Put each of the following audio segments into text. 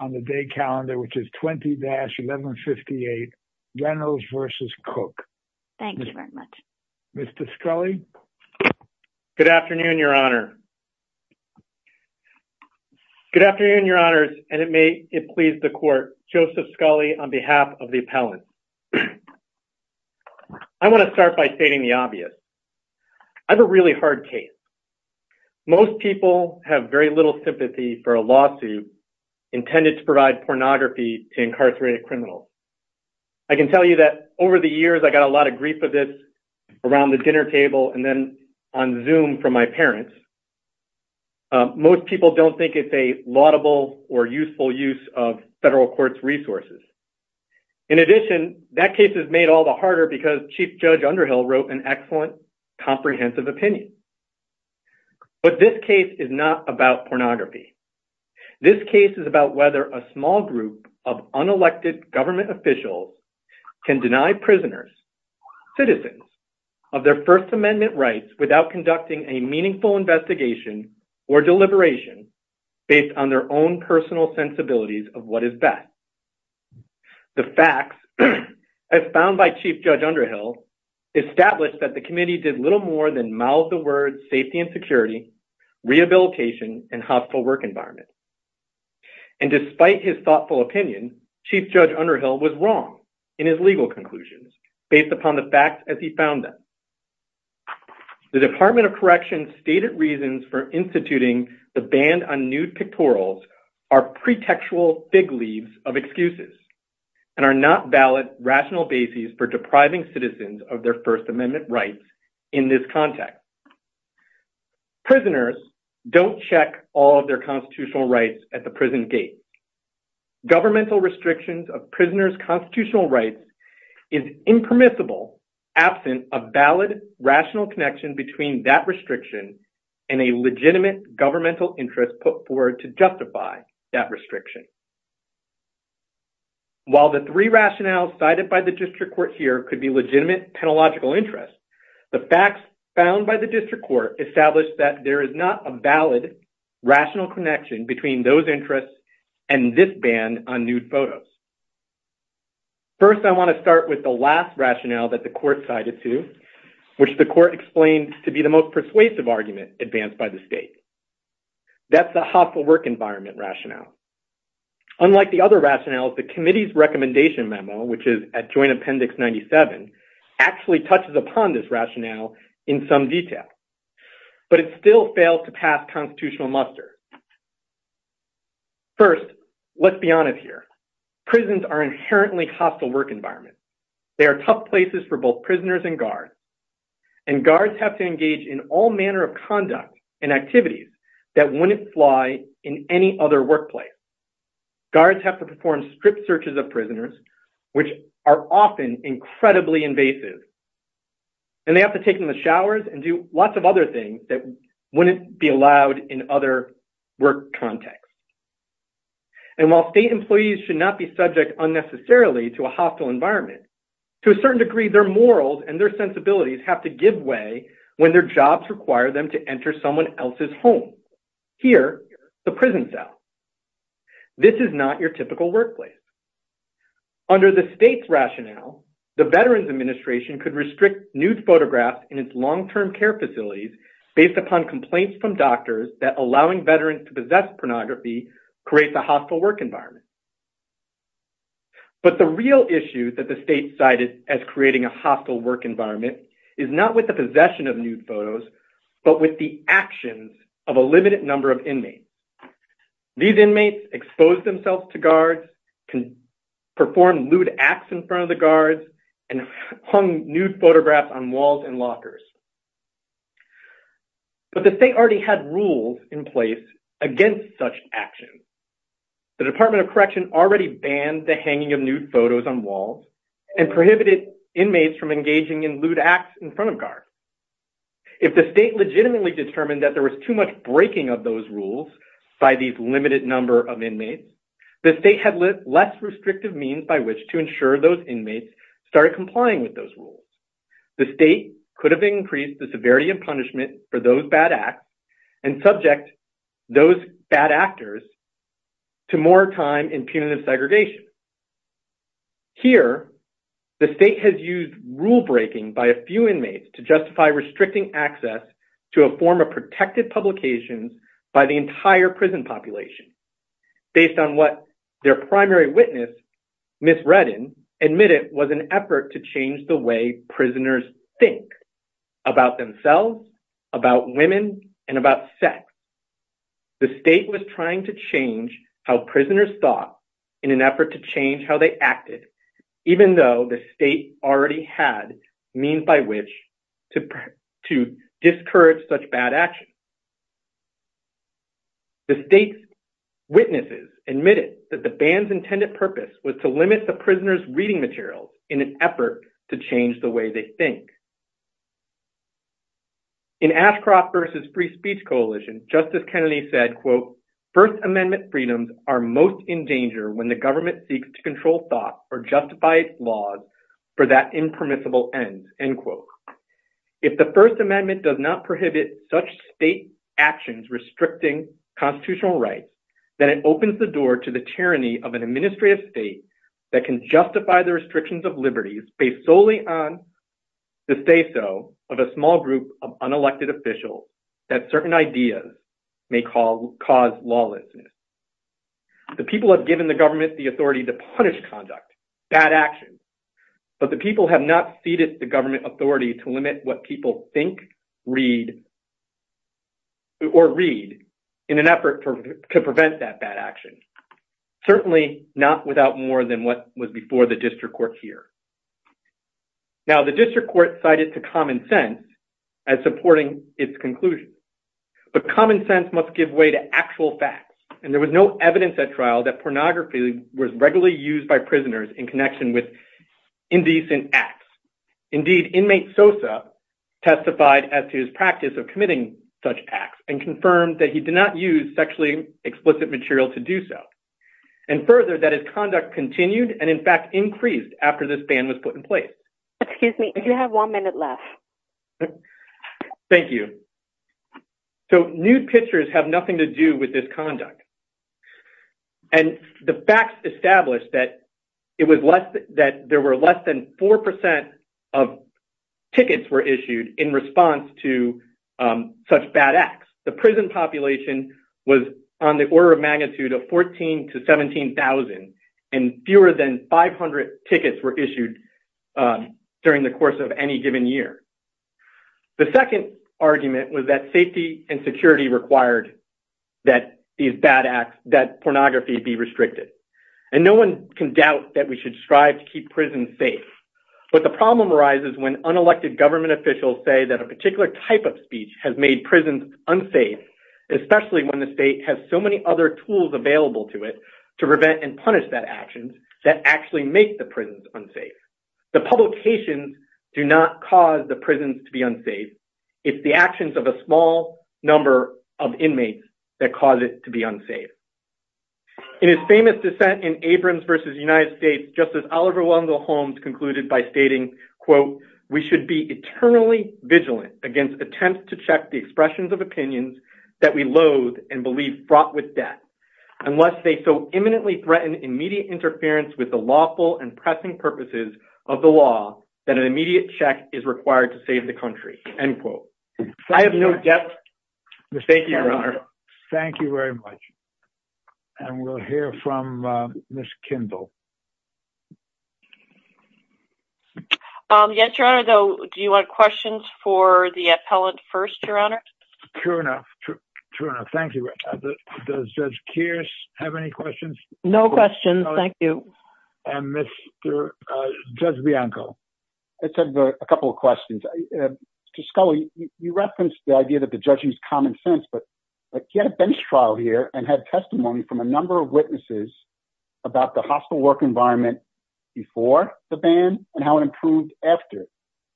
on the day calendar which is 20-1158 Reynolds versus Cook. Thank you very much. Mr. Scully. Good afternoon, Your Honor. Good afternoon, Your Honors, and may it please the Court. Joseph Scully on behalf of the appellant. I want to start by stating the obvious. I have a really hard case. Most people have very little sympathy for a lawsuit intended to provide pornography to incarcerated criminals. I can tell you that over the years I got a lot of grief of this around the dinner table and then on Zoom from my parents. Most people don't think it's a laudable or useful use of federal court's resources. In addition, that case is made all the harder because Chief Judge Underhill wrote an excellent comprehensive opinion. But this case is not about pornography. This case is about whether a small group of unelected government officials can deny prisoners, citizens, of their First Amendment rights without conducting a meaningful investigation or deliberation based on their own personal sensibilities of what is best. The facts, as found by Chief Judge Underhill, established that the committee did little more than mouth the words safety and security, rehabilitation, and hospital work environment. And despite his thoughtful opinion, Chief Judge Underhill was wrong in his legal conclusions based upon the facts as he found them. The Department of Corrections stated reasons for excuses and are not valid rational basis for depriving citizens of their First Amendment rights in this context. Prisoners don't check all of their constitutional rights at the prison gate. Governmental restrictions of prisoners' constitutional rights is impermissible absent a valid rational connection between that restriction and a legitimate governmental interest put forward to justify that restriction. While the three rationales cited by the district court here could be legitimate technological interests, the facts found by the district court established that there is not a valid rational connection between those interests and this ban on nude photos. First, I want to start with the last rationale that the court cited to, which the court explained to be the most persuasive argument advanced by the state. That's the hospital work environment rationale. Unlike the other rationales, the committee's recommendation memo, which is at Joint Appendix 97, actually touches upon this rationale in some detail. But it still fails to pass constitutional muster. First, let's be honest here. Prisons are inherently hostile work environments. They are tough places for both prisoners and guards. And guards have to engage in all manner of conduct and activities that wouldn't fly in any other workplace. Guards have to perform strict searches of prisoners, which are often incredibly invasive. And they have to take in the showers and do lots of other things that wouldn't be allowed in other work contexts. And while state employees should not be subject unnecessarily to a hostile environment, to a certain degree, their morals and their sensibilities have to give way when their jobs require them to enter someone else's home. Here, the prison cell. This is not your typical workplace. Under the state's rationale, the Veterans Administration could restrict nude photographs in its long-term care facilities based upon complaints from doctors that allowing veterans to possess pornography creates a hostile work environment. But the real issue that the state cited as creating a hostile work environment is not with the possession of nude photos, but with the actions of a limited number of inmates. These inmates exposed themselves to guards, performed lewd acts in front of the guards, and hung nude photographs on walls and lockers. But the state already had rules in place against such actions. The Department of Correction already banned the hanging of nude photos on walls and prohibited inmates from engaging in lewd acts in front of guards. If the state legitimately determined that there was too much breaking of those rules by these limited number of inmates, the state had less restrictive means by which to ensure those inmates started complying with those rules. The state could have increased the severity of punishment for those bad acts and subject those bad actors to more time in punitive segregation. Here, the state has used rule breaking by a few inmates to justify restricting access to a form of protected publications by the entire prison population based on what their primary witness, Ms. Redden, admitted was an effort to change the way prisoners think about themselves, about women, and about sex. The state was trying to change how prisoners thought in an effort to change how they acted, even though the state already had means by which to discourage such bad action. The state's witnesses admitted that the ban's intended purpose was to limit the prisoners' reading materials in an effort to change the way they think. In Ashcroft v. Free Speech Coalition, Justice Kennedy said, First Amendment freedoms are most in danger when the government seeks to control thoughts or justify its laws for that impermissible end. If the First Amendment does not prohibit such state actions restricting constitutional rights, then it opens the door to the tyranny of an administrative state that can justify the restrictions of liberties based solely on say-so of a small group of unelected officials that certain ideas may cause lawlessness. The people have given the government the authority to punish conduct, bad actions, but the people have not ceded the government authority to limit what people think, read, or read in an effort to prevent that bad action, certainly not without more than what was before the district court here. Now, the district court cited to common sense as supporting its conclusion, but common sense must give way to actual facts, and there was no evidence at trial that pornography was regularly used by prisoners in connection with indecent acts. Indeed, inmate Sosa testified as to his practice of committing such acts and confirmed that he did not use sexually explicit material to do so, and further that his conduct continued and in fact increased after this ban was put in place. Excuse me, you have one minute left. Thank you. So, nude pictures have nothing to do with this conduct, and the facts established that there were less than four percent of tickets were issued in response to such bad acts. The prison population was on the order of 14,000 to 17,000, and fewer than 500 tickets were issued during the course of any given year. The second argument was that safety and security required that these bad acts, that pornography be restricted, and no one can doubt that we should strive to keep prisons safe, but the problem arises when unelected government officials say that a particular type of speech has made prisons unsafe, especially when the state has so many other tools available to it to prevent and punish that action that actually make the prisons unsafe. The publications do not cause the prisons to be unsafe. It's the actions of a small number of inmates that cause it to be unsafe. In his famous dissent in Abrams v. United States, Justice Oliver Wendell Holmes concluded by stating, we should be eternally vigilant against attempts to check the expressions of opinions that we loathe and believe fraught with death, unless they so imminently threaten immediate interference with the lawful and pressing purposes of the law that an immediate check is required to save the country. I have no doubt. Thank you, Your Honor. Thank you very much, and we'll hear from Ms. Kindle. Yes, Your Honor, do you want questions for the appellant first, Your Honor? Sure enough. Thank you. Does Judge Kearse have any questions? No questions. Thank you. And Judge Bianco? I just have a couple of questions. Mr. Scully, you referenced the idea that the judge used common sense, but you had a bench trial here and had testimony from a number of witnesses about the hostile work environment before the ban and how it improved after.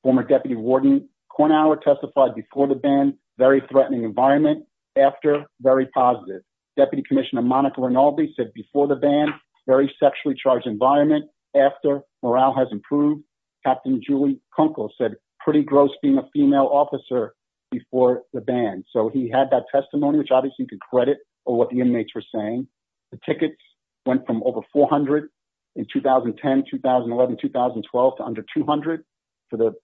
Former Deputy Warden Kornauer testified before the ban, very threatening environment. After, very positive. Deputy Commissioner Monica Rinaldi said before the ban, very sexually charged environment. After, morale has improved. Captain Julie Kunkel said, pretty gross being a female officer before the ban. So he had that testimony, which obviously you can credit for what the inmates were saying. The tickets went from over 400 in 2010, 2011, 2012 to under 200 for the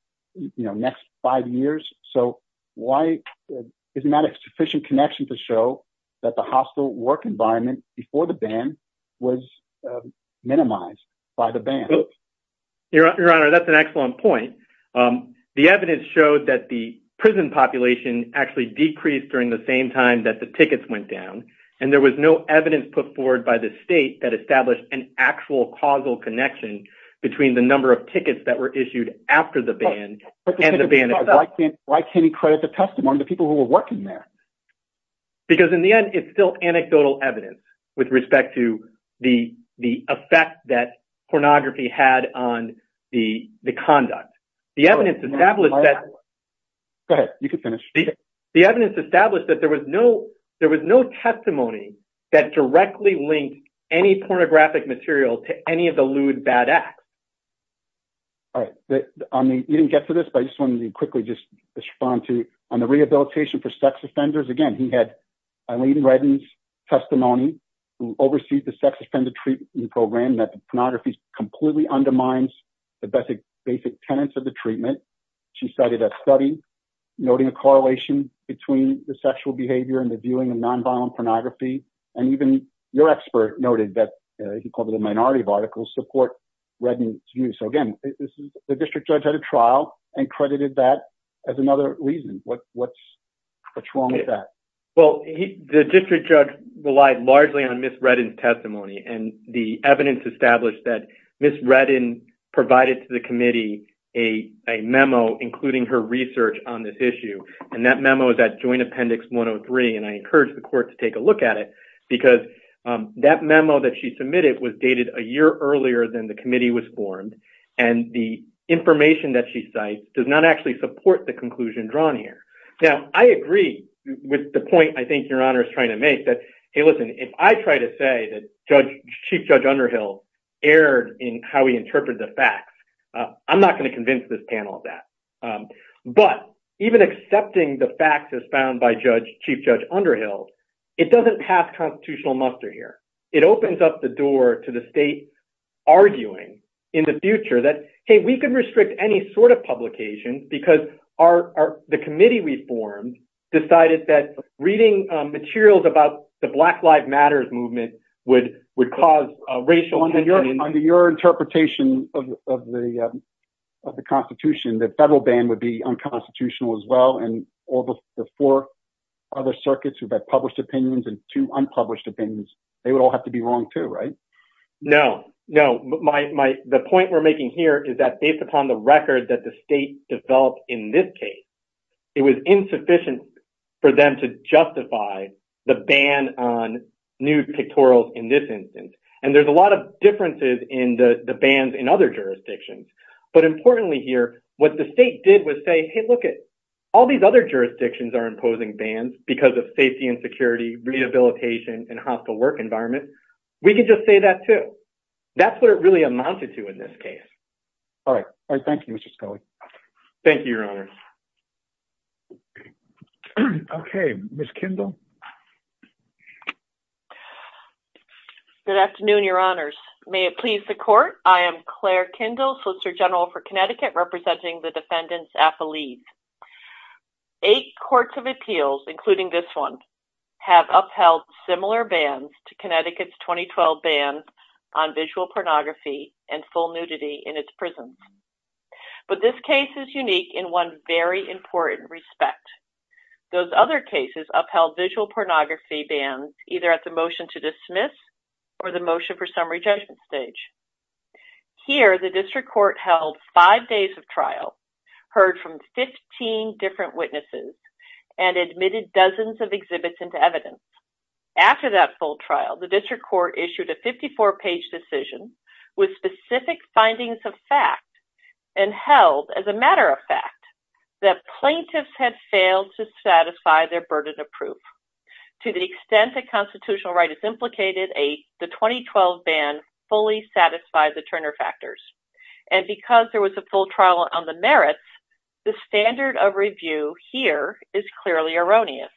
next five years. So isn't that a sufficient connection to show that the hostile work environment before the ban was minimized by the ban? Your Honor, that's an excellent point. The evidence showed that the prison population actually decreased during the same time that the tickets went down, and there was no evidence put forward by the state that established an actual causal connection between the number of tickets that were issued after the ban and the ban itself. Why can't he credit the testimony, the people who were working there? Because in the end, it's still anecdotal evidence with respect to the effect that pornography had on the conduct. The evidence established that- Go ahead, you can finish. The evidence established that there was no testimony that directly linked any pornographic material to any of the lewd bad acts. All right. You didn't get to this, but I just wanted to quickly just respond to, on the rehabilitation for sex offenders. Again, he had Aileen Redden's testimony, who oversees the sex offender treatment program, that pornography completely undermines the basic tenets of the treatment. She cited a study noting a correlation between the sexual behavior and the viewing of nonviolent pornography. Even your expert noted that, he called it a minority of articles, support Redden's view. Again, the district judge had a trial and credited that as another reason. What's wrong with that? The district judge relied largely on Ms. Redden's testimony, and the evidence established that Ms. Redden provided to the committee a memo including her research on this issue. That memo is at joint appendix 103, and I encourage the court to take a look at it, because that memo that she submitted was dated a year earlier than the committee was formed, and the information that she cited does not actually support the conclusion drawn here. Now, I agree with the point I think Your Honor is trying to make that, hey, listen, if I try to say that Chief Judge Underhill erred in how we interpret the facts, I'm not going to convince this panel of that. But even accepting the facts as found by Chief Judge Underhill, it doesn't pass constitutional muster here. It opens up the door to the state arguing in the future that, hey, we can restrict any sort of publication because the committee we formed decided that reading materials about the Black Lives Matters movement would cause racial... Under your interpretation of the Constitution, the federal ban would be unconstitutional as well, and all the four other circuits who've had published opinions and two unpublished opinions, they would all have to be wrong too, right? No, no. The point we're making here is that based upon the record that the state developed in this case, it was insufficient for them to justify the ban on nude pictorials in this instance. And there's a lot of differences in the bans in other jurisdictions. But importantly here, what the state did was say, hey, look it, all these other jurisdictions are imposing bans because of safety and security, rehabilitation, and hostile work environment. We could just say that too. That's what it really amounted to in this case. All right. All right. Thank you, Mr. Scully. Thank you, Your Honor. Okay. Ms. Kindle. Good afternoon, Your Honors. May it please the court, I am Claire Kindle, Solicitor General for Connecticut, representing the defendants' affilies. Eight courts of appeals, including this one, have upheld similar bans to Connecticut's 2012 ban on visual pornography and full nudity in its prisons. But this case is unique in one very important respect. Those other cases upheld visual pornography bans either at the motion to dismiss or the motion for summary judgment stage. Here, the district court held five days of trial, heard from 15 different witnesses, and admitted dozens of exhibits into evidence. After that full trial, the district court issued a 54-page decision with specific findings of fact and held, as a matter of fact, that plaintiffs had failed to satisfy their burden of proof. To the extent that constitutional right is implicated, the 2012 ban fully satisfied the Turner factors. And because there was a full trial on the merits, the standard of review here is clearly erroneous.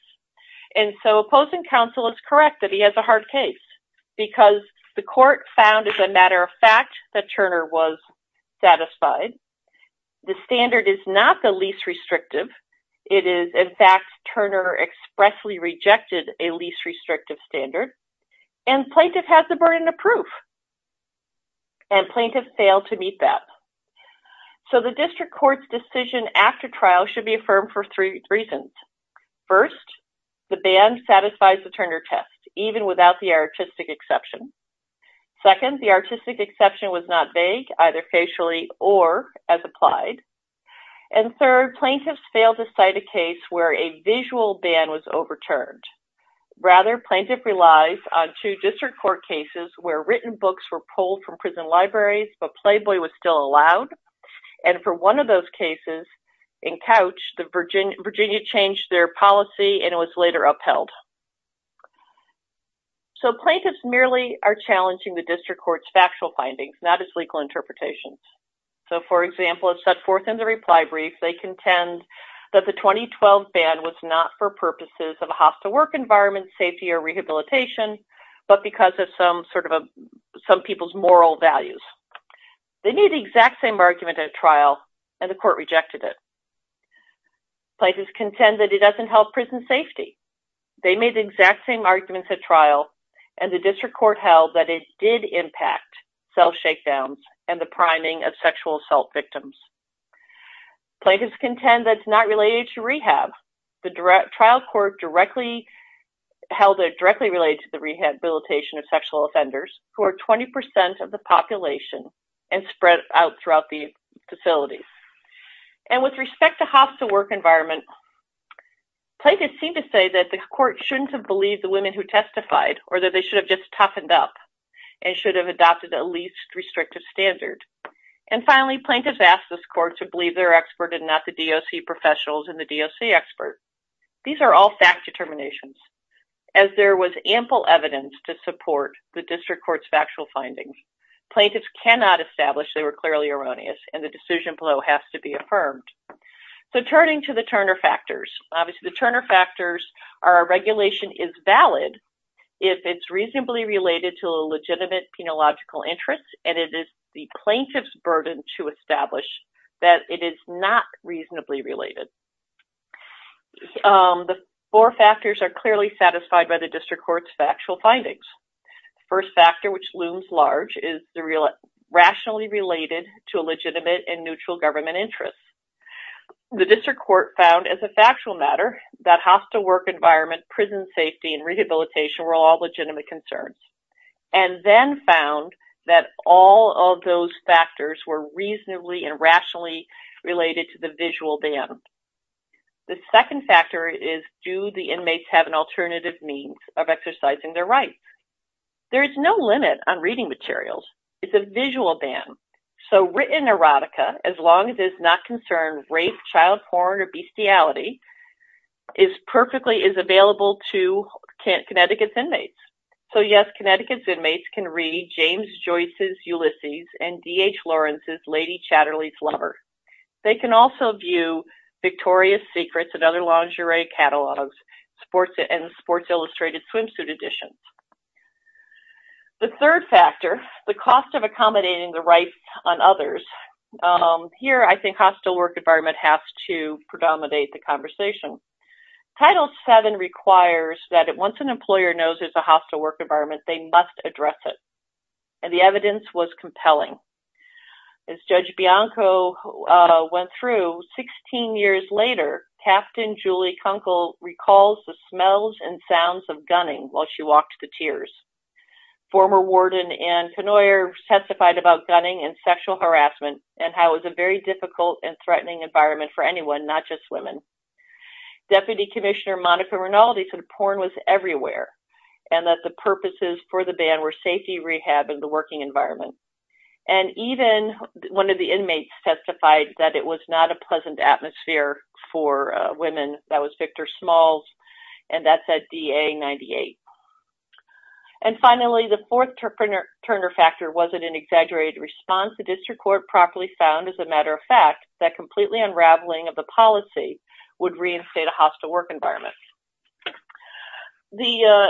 And so opposing counsel is correct that he has a case. Because the court found, as a matter of fact, that Turner was satisfied. The standard is not the least restrictive. It is, in fact, Turner expressly rejected a least restrictive standard. And plaintiff has the burden of proof. And plaintiffs failed to meet that. So the district court's decision after trial should be affirmed for three reasons. First, the ban satisfies the Turner test, even without the artistic exception. Second, the artistic exception was not vague, either facially or as applied. And third, plaintiffs failed to cite a case where a visual ban was overturned. Rather, plaintiff relies on two district court cases where written books were pulled from prison libraries, but Playboy was later upheld. So plaintiffs merely are challenging the district court's factual findings, not its legal interpretations. So for example, set forth in the reply brief, they contend that the 2012 ban was not for purposes of a hostile work environment, safety or rehabilitation, but because of some sort of some people's moral values. They made the exact same argument at court rejected it. Plaintiffs contend that it doesn't help prison safety. They made the exact same arguments at trial. And the district court held that it did impact self shakedowns and the priming of sexual assault victims. Plaintiffs contend that's not related to rehab. The trial court directly held it directly related to the rehabilitation of sexual offenders who are 20% of the population and spread out throughout the facility. And with respect to hostile work environment, plaintiffs seem to say that the court shouldn't have believed the women who testified or that they should have just toughened up and should have adopted a least restrictive standard. And finally, plaintiffs asked this court to believe their expert and not the DOC professionals and the DOC expert. These are all fact determinations, as there was ample evidence to support the plaintiffs cannot establish they were clearly erroneous and the decision below has to be affirmed. So turning to the Turner factors, obviously the Turner factors are regulation is valid if it's reasonably related to a legitimate penological interest and it is the plaintiff's burden to establish that it is not reasonably related. The four factors are clearly satisfied by the district court's factual findings. First factor, which looms large, is the rationally related to a legitimate and neutral government interest. The district court found as a factual matter that hostile work environment, prison safety, and rehabilitation were all legitimate concerns and then found that all of those factors were reasonably and rationally related to the visual dam. The second factor is do the inmates have an alternative means of exercising their rights? There is no limit on reading materials. It's a visual dam. So written erotica, as long as it's not concerned rape, child porn, or bestiality, is perfectly is available to Connecticut's inmates. So yes, Connecticut's inmates can read James Joyce's Ulysses and D.H. Lawrence's Lady Chatterley's and also view Victoria's Secrets and other lingerie catalogs and Sports Illustrated swimsuit editions. The third factor, the cost of accommodating the rights on others. Here I think hostile work environment has to predominate the conversation. Title VII requires that once an employer knows it's a hostile work environment, they must address it. And the evidence was 16 years later, Captain Julie Kunkel recalls the smells and sounds of gunning while she walked to tears. Former warden Ann Knoyer testified about gunning and sexual harassment and how it was a very difficult and threatening environment for anyone, not just women. Deputy Commissioner Monica Rinaldi said porn was everywhere and that the purposes for the ban were safety, rehab, and the working environment. And even one of the inmates testified that it was not a pleasant atmosphere for women. That was Victor Smalls and that's at DA 98. And finally, the fourth Turner factor wasn't an exaggerated response. The district court properly found, as a matter of fact, that completely unraveling of the policy would reinstate a hostile work environment. The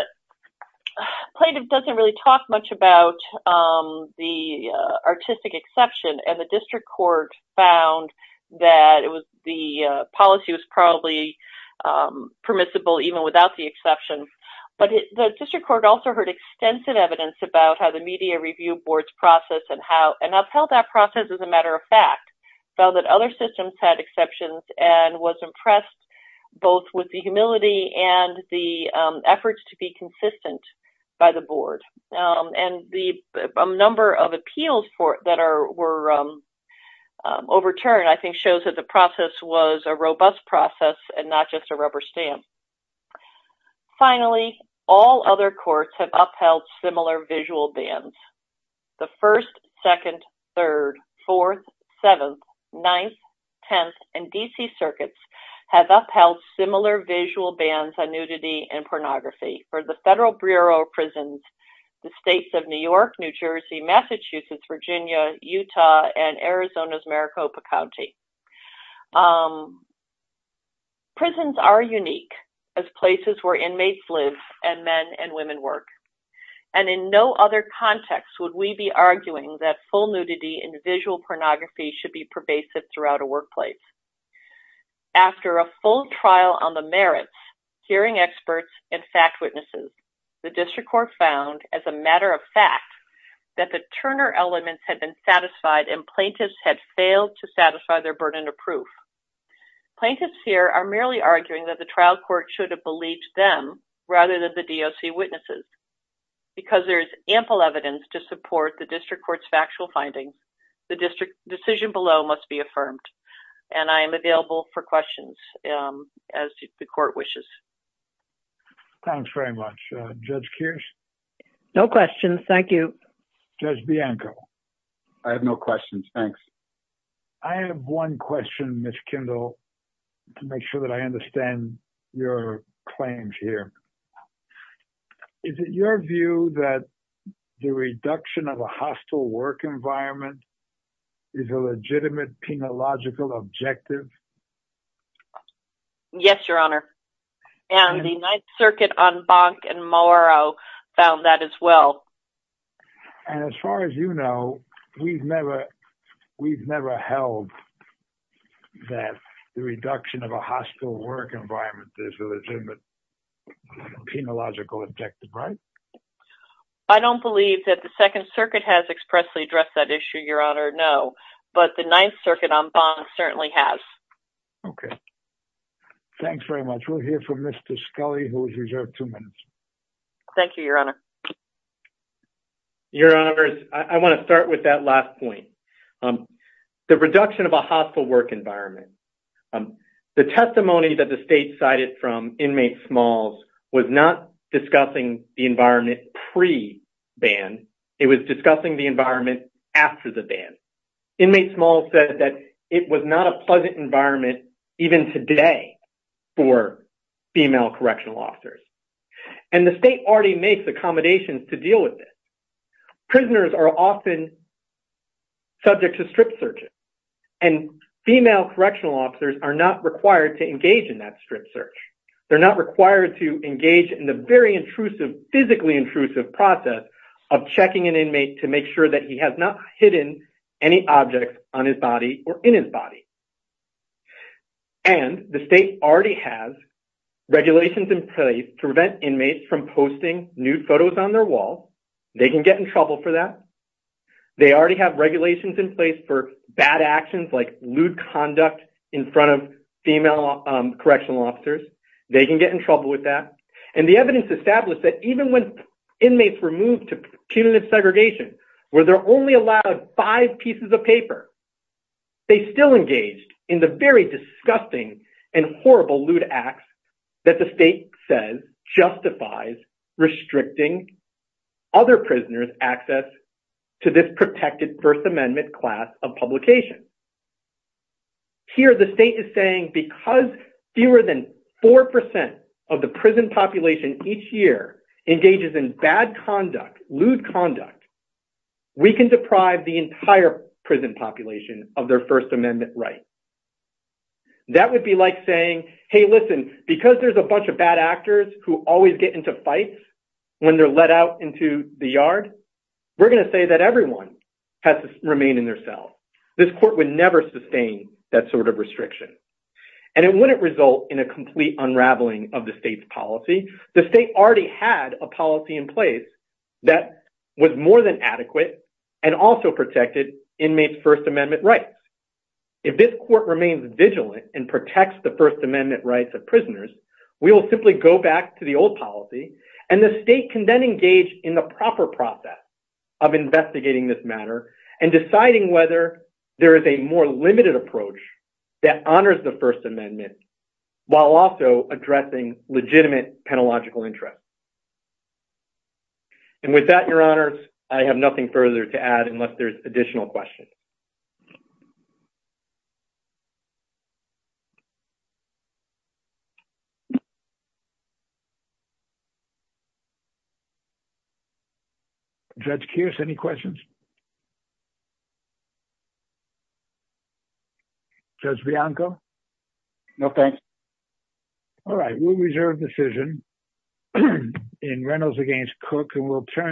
plaintiff doesn't really talk much about the artistic exception and the district court found that the policy was probably permissible even without the exception. But the district court also heard extensive evidence about how the media review board's process and upheld that process as a matter of fact, found that other systems had exceptions and was impressed both with the humility and the efforts to be consistent by the board. And the number of appeals that were overturned, I think shows that the process was a robust process and not just a rubber stamp. Finally, all other courts have upheld similar visual bans. The 1st, 2nd, 3rd, 4th, 7th, 9th, 10th, and DC circuits have upheld similar visual bans on nudity and pornography for the Federal Bureau of Prisons, the states of New York, New Jersey, Massachusetts, Virginia, Utah, and Arizona's Maricopa County. Prisons are unique as places where inmates live and men and women work. And in no other context would we be arguing that full nudity and visual pornography should be pervasive throughout a workplace. After a full trial on the merits, hearing experts, and fact witnesses, the district court found, as a matter of fact, that the Turner elements had been satisfied and plaintiffs had failed to satisfy their burden of proof. Plaintiffs here are merely arguing that the trial court should have believed them rather than the DOC witnesses. Because there is ample evidence to support the district court's factual findings, the decision below must be affirmed. And I am available for questions as the court wishes. Thanks very much. Judge Kears? No questions. Thank you. Judge Bianco? I have no questions. Thanks. I have one question, Ms. Kendall, to make sure that I understand your claims here. Is it your view that the reduction of a hostile work environment is a legitimate penological objective? Yes, Your Honor. And the Ninth Circuit on Bonk and Mauro found that as well. And as far as you know, we've never held that the reduction of a hostile work environment is a legitimate penological objective, right? I don't believe that the Second Circuit has expressly addressed that issue, Your Honor, no. But the Ninth Circuit on Bonk certainly has. Okay. Thanks very much. We'll hear from Mr. Scully, who is reserved two minutes. Thank you, Your Honor. Your Honors, I want to start with that last point. The reduction of a hostile work environment. The testimony that the state cited from inmate Smalls was not discussing the environment pre-ban. It was discussing the environment after the ban. Inmate Smalls said that it was not a pleasant environment even today for female correctional officers. And the state already makes accommodations to deal with this. Prisoners are often subject to strip searches. And female correctional officers are not required to engage in that strip search. They're not required to engage in the very intrusive, physically intrusive process of checking an inmate to make sure that he has not objects on his body or in his body. And the state already has regulations in place to prevent inmates from posting nude photos on their walls. They can get in trouble for that. They already have regulations in place for bad actions like lewd conduct in front of female correctional officers. They can get in trouble with that. And the evidence established that even when inmate Smalls posted five pieces of paper, they still engaged in the very disgusting and horrible lewd acts that the state says justifies restricting other prisoners' access to this protected First Amendment class of publication. Here the state is saying because fewer than 4% of the prison population each year engages in bad conduct, lewd conduct, we can deprive the entire prison population of their First Amendment rights. That would be like saying, hey, listen, because there's a bunch of bad actors who always get into fights when they're let out into the yard, we're going to say that everyone has to remain in their cell. This court would never sustain that sort of restriction. And it wouldn't result in a complete unraveling of the state's the state already had a policy in place that was more than adequate and also protected inmates' First Amendment rights. If this court remains vigilant and protects the First Amendment rights of prisoners, we will simply go back to the old policy and the state can then engage in the proper process of investigating this matter and deciding whether there is a more penalogical interest. And with that, Your Honors, I have nothing further to add unless there's additional questions. Judge Kearse, any questions? Judge Bianco? No, thanks. All right, we'll reserve decision in Reynolds against Cook and we'll turn.